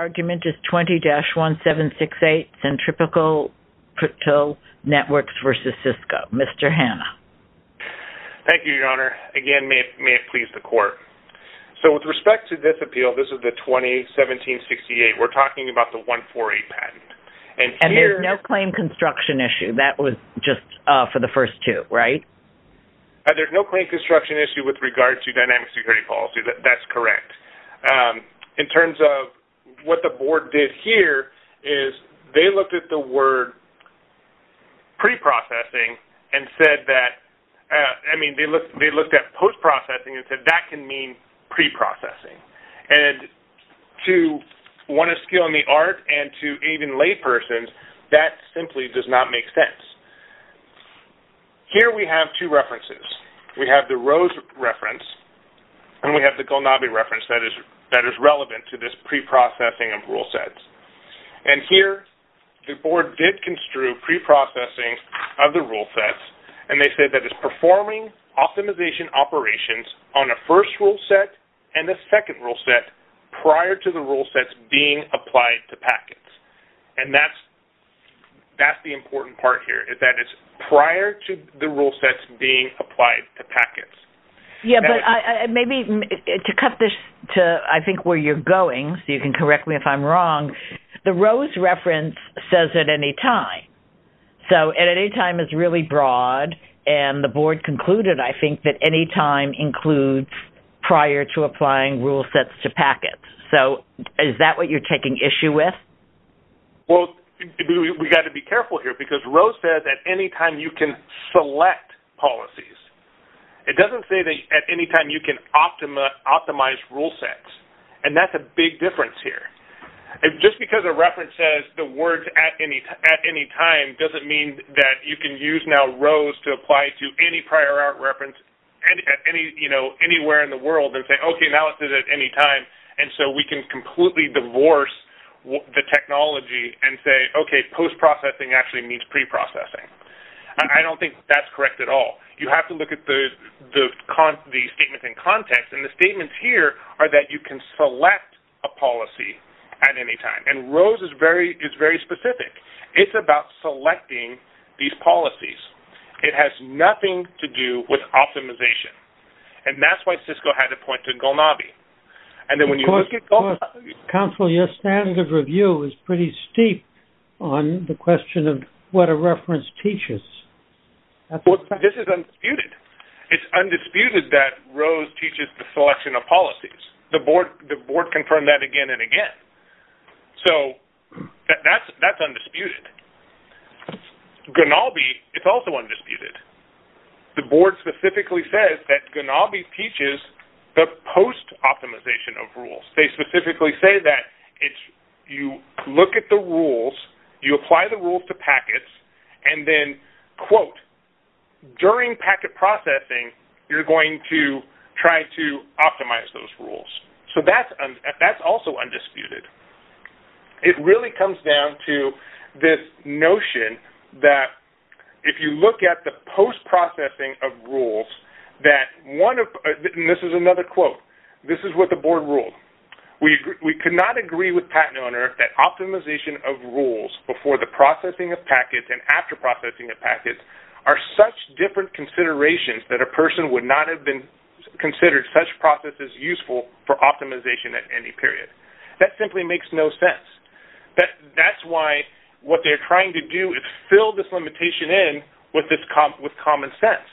argument is 20-1768, Centripetal Networks vs. Cisco. Mr. Hanna. Thank you, Your Honor. Again, may it please the Court. So with respect to this appeal, this is the 2017-68, we're talking about the 148 patent. And there's no claim construction issue. That was just for the first two, right? There's no claim construction issue with regard to dynamic security policy. That's correct. In terms of what the Board did here is they looked at the word pre-processing and said that, I mean, they looked at post-processing and said that can mean pre-processing. And to want to skill in the art and to aid in laypersons, that simply does not make sense. Here we have two references. We have the Rose reference and we have the Golnabi reference that is relevant to this pre-processing of rule sets. And here the Board did construe pre-processing of the rule sets. And they said that it's performing optimization operations on a first rule set and a second rule set prior to the rule sets being applied to packets. And that's the important part here is that it's prior to the rule sets being applied to packets. Yeah, but maybe to cut this to, I think, where you're going, so you can correct me if I'm wrong, the Rose reference says at any time. So at any time is really broad. And the Board concluded, I think, that any time includes prior to applying rule sets to packets. So is that what you're taking issue with? Well, we've got to be careful here because Rose says at any time you can select policies. It doesn't say that at any time you can optimize rule sets. And that's a big difference here. Just because a reference says the words at any time doesn't mean that you can use now Rose to apply to any prior art reference anywhere in the world and say, okay, now it's at any time. And so we can completely divorce the technology and say, okay, post-processing actually means pre-processing. I don't think that's correct at all. You have to look at the statements in context. And the statements here are that you can select a policy at any time. And Rose is very specific. It's about selecting these policies. It has nothing to do with optimization. And that's why Cisco had to point to Gulnabi. Counsel, your standard of review is pretty steep on the question of what a reference teaches. This is undisputed. It's undisputed that Rose teaches the selection of policies. The board confirmed that again and again. So that's undisputed. Gulnabi is also undisputed. The board specifically says that Gulnabi teaches the post-optimization of rules. They specifically say that you look at the rules, you apply the rules to packets, and then, quote, during packet processing, you're going to try to optimize those rules. So that's also undisputed. It really comes down to this notion that if you look at the post-processing of rules, and this is another quote, this is what the board ruled. We could not agree with patent owner that optimization of rules before the processing of packets and after processing of packets are such different considerations that a person would not have considered such processes useful for optimization at any period. That simply makes no sense. That's why what they're trying to do is fill this limitation in with common sense.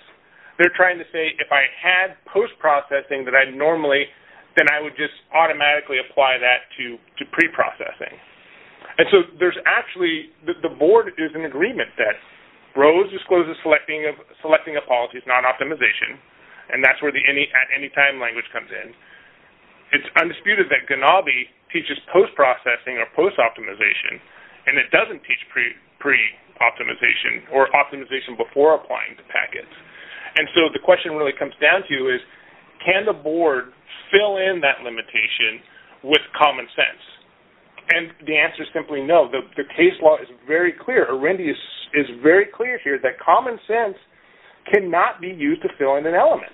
They're trying to say, if I had post-processing that I normally, then I would just automatically apply that to pre-processing. And so there's actually, the board is in agreement that Rose discloses selecting of policies, not optimization, and that's where the any time language comes in. It's undisputed that Ganabe teaches post-processing or post-optimization, and it doesn't teach pre-optimization or optimization before applying to packets. And so the question really comes down to is, can the board fill in that limitation with common sense? And the answer is simply no. The case law is very clear. Arendi is very clear here that common sense cannot be used to fill in an element.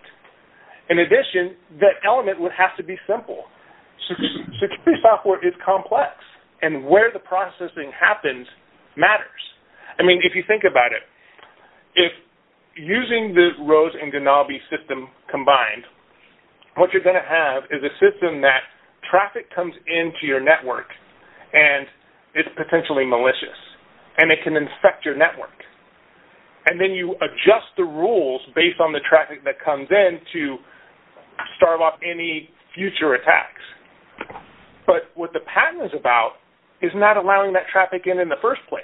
In addition, that element would have to be simple. Security software is complex, and where the processing happens matters. I mean, if you think about it, if using the Rose and Ganabe system combined, what you're going to have is a system that traffic comes into your network, and it's potentially malicious, and it can infect your network. And then you adjust the rules based on the traffic that comes in to starve off any future attacks. But what the patent is about is not allowing that traffic in in the first place.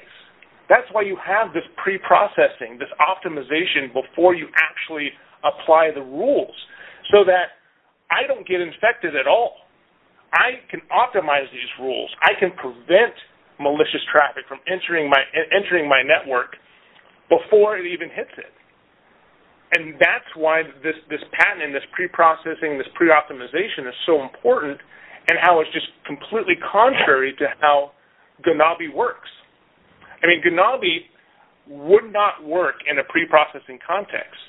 That's why you have this pre-processing, this optimization before you actually apply the rules, so that I don't get infected at all. I can optimize these rules. I can prevent malicious traffic from entering my network before it even hits it. And that's why this patent and this pre-processing, this pre-optimization is so important and how it's just completely contrary to how Ganabe works. I mean, Ganabe would not work in a pre-processing context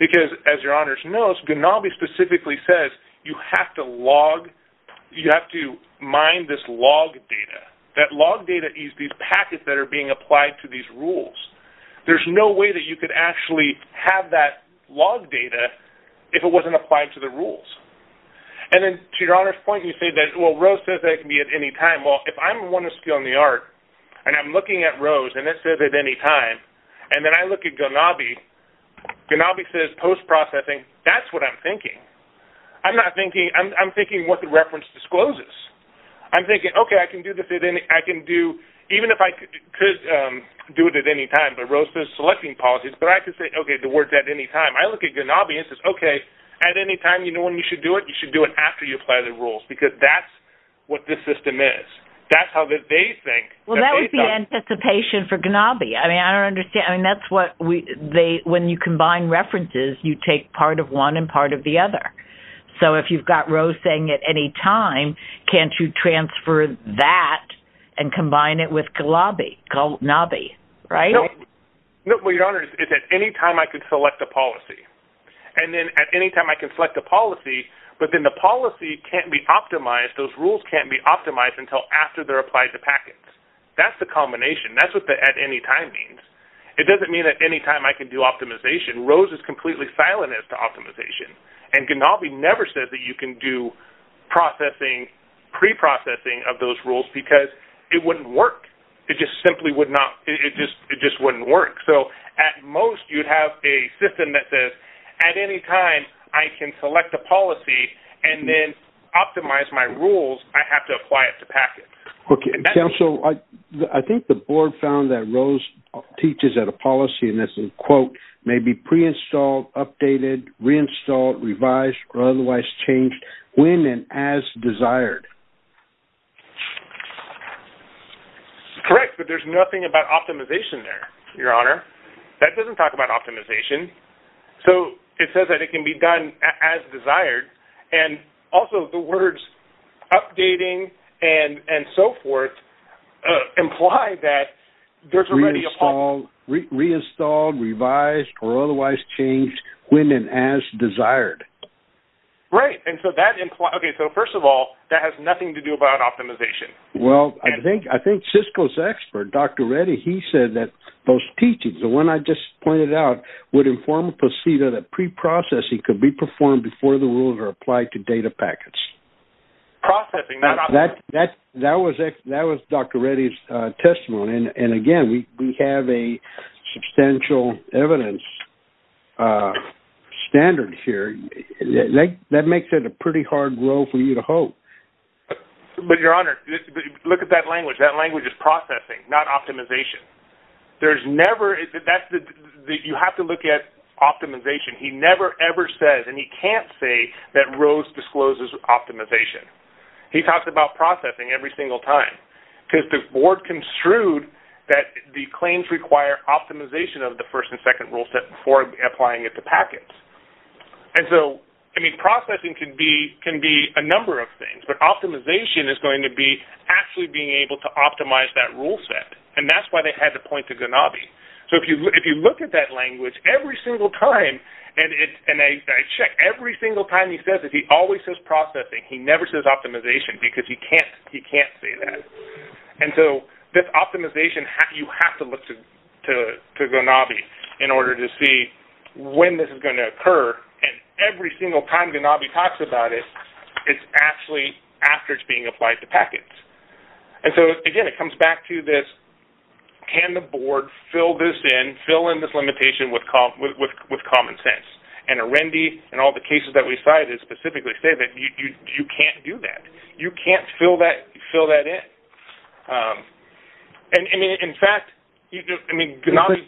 because, as your honors know, Ganabe specifically says you have to log, you have to mine this log data. That log data is these packets that are being applied to these rules. There's no way that you could actually have that log data if it wasn't applied to the rules. And then, to your honors' point, you say that, well, Rose says that it can be at any time. Well, if I'm the one that's stealing the art, and I'm looking at Rose, and it says at any time, and then I look at Ganabe, Ganabe says post-processing. That's what I'm thinking. I'm not thinking – I'm thinking what the reference discloses. I'm thinking, okay, I can do this at any – I can do – even if I could do it at any time, but Rose says selecting policies, but I can say, okay, the word's at any time. I look at Ganabe and it says, okay, at any time, you know when you should do it? You should do it after you apply the rules because that's what this system is. That's how they think. Well, that would be anticipation for Ganabe. I mean, I don't understand. I mean, that's what we – when you combine references, you take part of one and part of the other. So if you've got Rose saying at any time, can't you transfer that and combine it with Ganabe, right? No, but your honors, it's at any time I could select a policy. And then at any time I can select a policy, but then the policy can't be optimized. Those rules can't be optimized until after they're applied to packets. That's the combination. That's what the at any time means. It doesn't mean at any time I can do optimization. Rose is completely silent as to optimization. And Ganabe never says that you can do processing, pre-processing of those rules because it wouldn't work. It just simply would not – it just wouldn't work. So at most you'd have a system that says at any time I can select a policy and then optimize my rules. I have to apply it to packets. Okay. Counsel, I think the board found that Rose teaches at a policy, and this is a quote, may be pre-installed, updated, reinstalled, revised, or otherwise changed when and as desired. Correct, but there's nothing about optimization there, your honor. That doesn't talk about optimization. So it says that it can be done as desired, and also the words updating and so forth imply that there's already a policy. Reinstalled, revised, or otherwise changed when and as desired. Right, and so that – okay, so first of all, that has nothing to do about optimization. Well, I think Cisco's expert, Dr. Reddy, he said that those teachings, the one I just pointed out, would inform a procedure that pre-processing could be performed before the rules are applied to data packets. Processing. That was Dr. Reddy's testimony, and again, we have a substantial evidence standard here. That makes it a pretty hard role for you to hold. But your honor, look at that language. That language is processing, not optimization. There's never – you have to look at optimization. He never ever says, and he can't say, that Rose discloses optimization. He talks about processing every single time because the board construed that the claims require optimization of the first and second rule set before applying it to packets. And so, I mean, processing can be a number of things, but optimization is going to be actually being able to optimize that rule set, and that's why they had to point to Ganabe. So if you look at that language every single time, and I check, every single time he says it, he always says processing. He never says optimization because he can't say that. And so, this optimization, you have to look to Ganabe in order to see when this is going to occur, and every single time Ganabe talks about it, it's actually after it's being applied to packets. And so, again, it comes back to this, can the board fill this in, fill in this limitation with common sense? And Arendi and all the cases that we cited specifically say that you can't do that. You can't fill that in. And, I mean, in fact, I mean, Ganabe...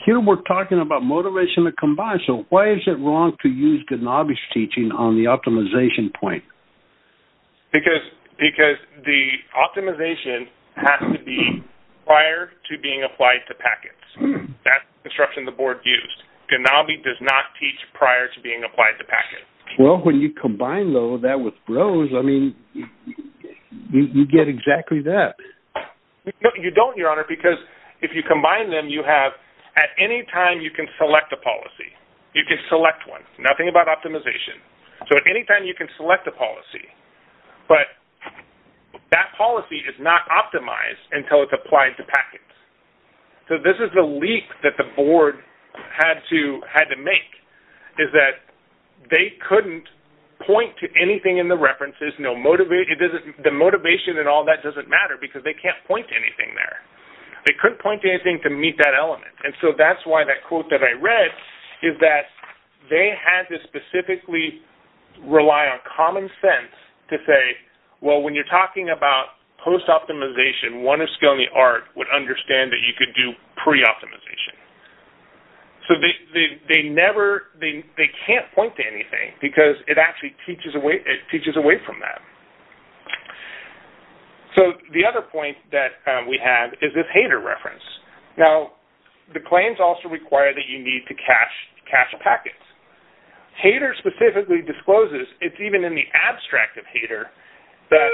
Here we're talking about motivation to combine, so why is it wrong to use Ganabe's teaching on the optimization point? Because the optimization has to be prior to being applied to packets. That's the instruction the board used. Ganabe does not teach prior to being applied to packets. Well, when you combine, though, that with BROSE, I mean, you get exactly that. No, you don't, Your Honor, because if you combine them, you have... At any time, you can select a policy. You can select one. Nothing about optimization. So, at any time, you can select a policy, but that policy is not optimized until it's applied to packets. So, this is the leap that the board had to make, is that they couldn't point to anything in the references. The motivation and all that doesn't matter because they can't point to anything there. They couldn't point to anything to meet that element, and so that's why that quote that I read is that they had to specifically rely on common sense to say, well, when you're talking about post-optimization, one of Scalene Art would understand that you could do pre-optimization. So, they never... They can't point to anything because it actually teaches away from that. So, the other point that we have is this hater reference. Now, the claims also require that you need to cache packets. Hater specifically discloses, it's even in the abstract of hater, that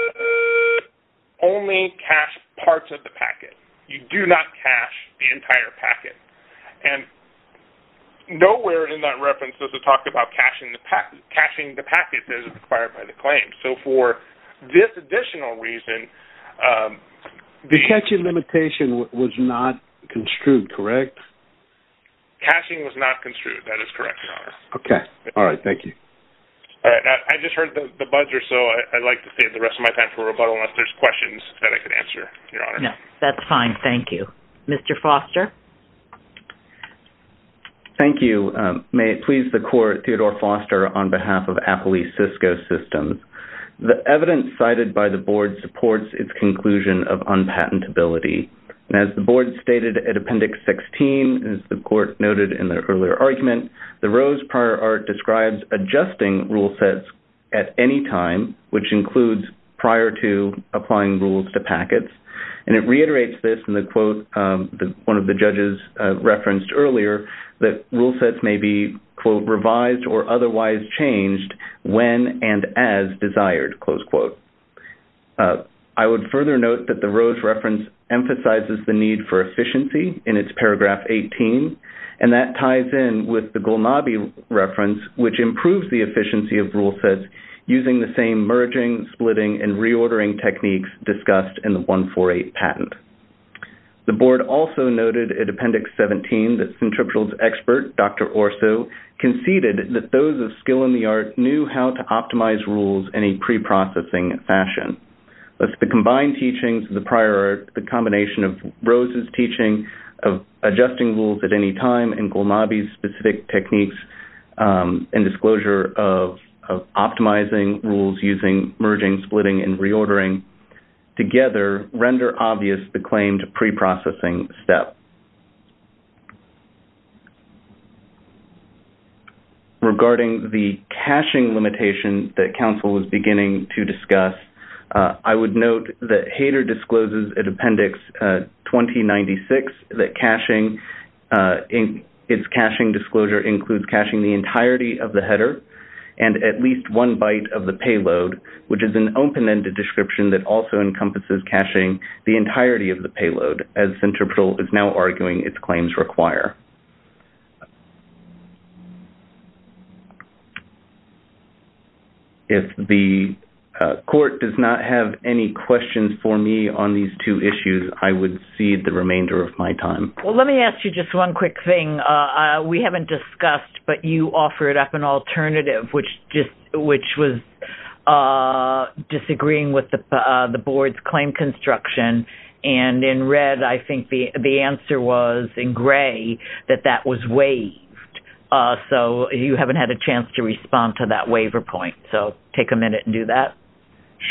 only cache parts of the packet. You do not cache the entire packet, and nowhere in that reference does it talk about caching the packet that is required by the claim. So, for this additional reason... The caching limitation was not construed, correct? Caching was not construed. That is correct, Your Honor. Okay. All right. Thank you. All right. I just heard the buzzer, so I'd like to save the rest of my time for rebuttal unless there's questions that I could answer, Your Honor. No. That's fine. Thank you. Mr. Foster? Thank you. May it please the Court, Theodore Foster, on behalf of Apple East Cisco Systems. The evidence cited by the Board supports its conclusion of unpatentability. As the Board stated at Appendix 16, as the Court noted in the earlier argument, the Rose prior art describes adjusting rule sets at any time, which includes prior to applying rules to packets, and it reiterates this in the quote one of the judges referenced earlier, that rule sets may be, quote, revised or otherwise changed when and as desired, close quote. I would further note that the Rose reference emphasizes the need for efficiency in its paragraph 18, and that ties in with the Gulnabi reference, which improves the efficiency of rule sets using the same merging, splitting, and reordering techniques discussed in the 148 patent. The Board also noted at Appendix 17 that Centripetal's expert, Dr. Orso, conceded that those of skill in the art knew how to optimize rules in a preprocessing fashion. Thus, the combined teachings of the prior art, the combination of Rose's teaching of adjusting rules at any time, and Gulnabi's specific techniques in disclosure of optimizing rules using merging, splitting, and reordering, together render obvious the claimed preprocessing step. Regarding the caching limitation that counsel was beginning to discuss, I would note that Hayter discloses at Appendix 2096 that its caching disclosure includes caching the entirety of the header and at least one byte of the payload, which is an open-ended description that also encompasses caching the entirety of the payload, as Centripetal is now arguing its claims require. If the Court does not have any questions for me on these two issues, I would cede the remainder of my time. Well, let me ask you just one quick thing. We haven't discussed, but you offered up an alternative, which was disagreeing with the Board's claim construction, and in red, I think the answer was, in gray, that that was waived. So you haven't had a chance to respond to that waiver point. So take a minute and do that.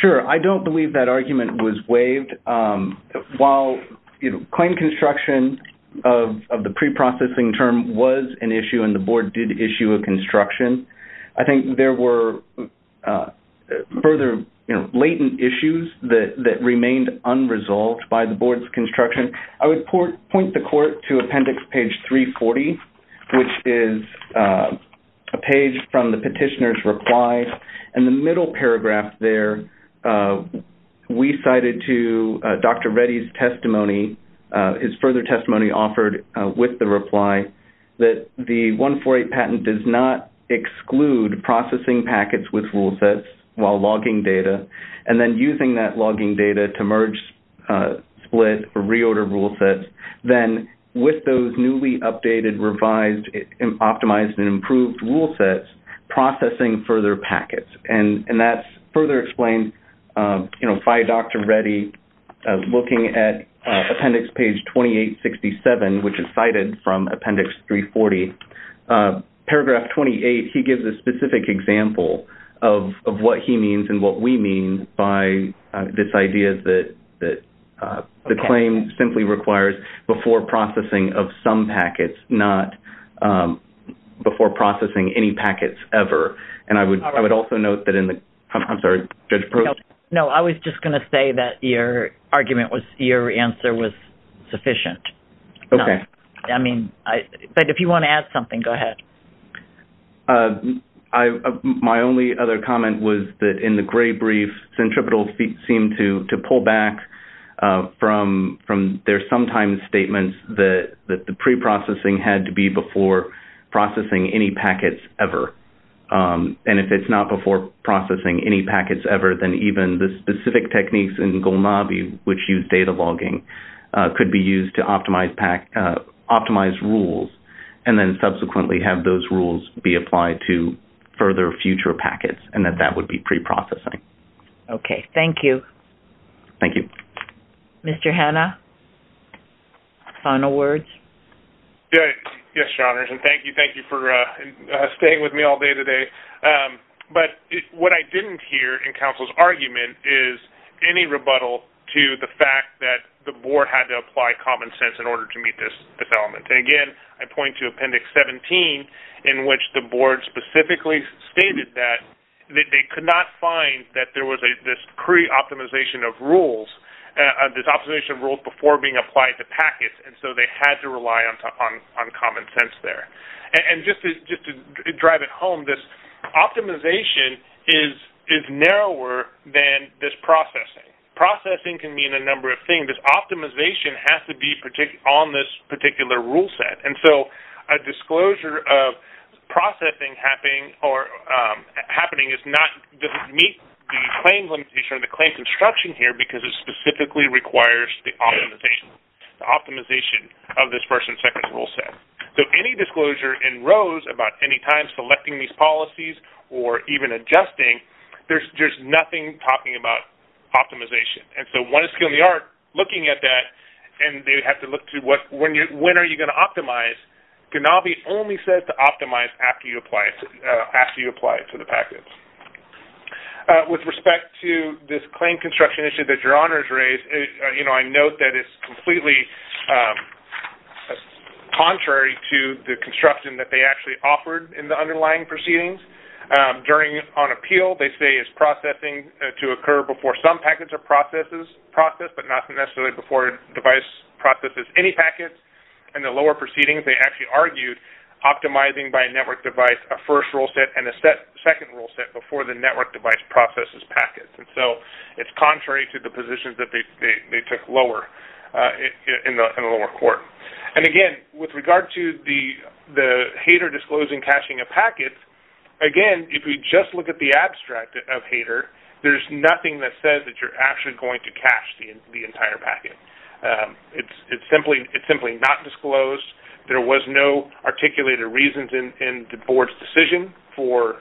Sure. I don't believe that argument was waived. While claim construction of the preprocessing term was an issue and the Board did issue a construction, I think there were further latent issues that remained unresolved by the Board's construction. I would point the Court to Appendix page 340, which is a page from the petitioner's reply. In the middle paragraph there, we cited to Dr. Reddy's testimony, his further testimony offered with the reply, that the 148 patent does not exclude processing packets with rule sets while logging data and then using that logging data to merge, split, or reorder rule sets, then with those newly updated, revised, optimized, and improved rule sets, processing further packets. And that's further explained by Dr. Reddy looking at Appendix page 2867, which is cited from Appendix 340. Paragraph 28, he gives a specific example of what he means and what we mean by this idea that the claim simply requires before processing of some packets, not before processing any packets ever. And I would also note that in the, I'm sorry, Judge Probst? No, I was just going to say that your argument was, your answer was sufficient. Okay. I mean, but if you want to add something, go ahead. My only other comment was that in the gray brief, Centripetal seemed to pull back from their sometimes statements that the preprocessing had to be before processing any packets ever. And if it's not before processing any packets ever, then even the specific techniques in Golnabi, which use data logging, could be used to optimize rules and then subsequently have those rules be applied to further future packets and that that would be preprocessing. Okay, thank you. Thank you. Mr. Hanna, final words? Yes, Your Honors, and thank you. Thank you for staying with me all day today. But what I didn't hear in counsel's argument is any rebuttal to the fact that the board had to apply common sense in order to meet this development. And again, I point to Appendix 17 in which the board specifically stated that they could not find that there was this pre-optimization of rules, this optimization of rules before being applied to packets, and so they had to rely on common sense there. And just to drive it home, this optimization is narrower than this processing. Processing can mean a number of things. This optimization has to be on this particular rule set. And so a disclosure of processing happening does not meet the claim limitation or the claim construction here because it specifically requires the optimization of this first and second rule set. So any disclosure in ROSE about any time selecting these policies or even adjusting, there's nothing talking about optimization. And so one skill in the art, looking at that, and they have to look to when are you going to optimize. GNABI only says to optimize after you apply it to the packets. With respect to this claim construction issue that Your Honors raised, I note that it's completely contrary to the construction that they actually offered in the underlying proceedings. On appeal, they say it's processing to occur before some packets are processed but not necessarily before a device processes any packets. In the lower proceedings, they actually argued optimizing by a network device, a first rule set, and a second rule set before the network device processes packets. And so it's contrary to the positions that they took in the lower court. And again, with regard to the hater disclosing caching of packets, again, if we just look at the abstract of hater, there's nothing that says that you're actually going to cache the entire packet. It's simply not disclosed. There was no articulated reasons in the board's decision for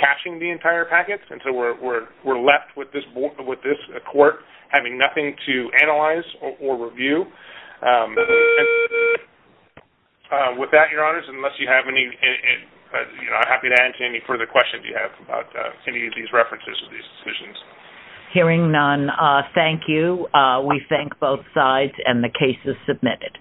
caching the entire packet. And so we're left with this court having nothing to analyze or review. With that, Your Honors, I'm happy to answer any further questions you have about any of these references or these decisions. Hearing none, thank you. We thank both sides, and the case is submitted.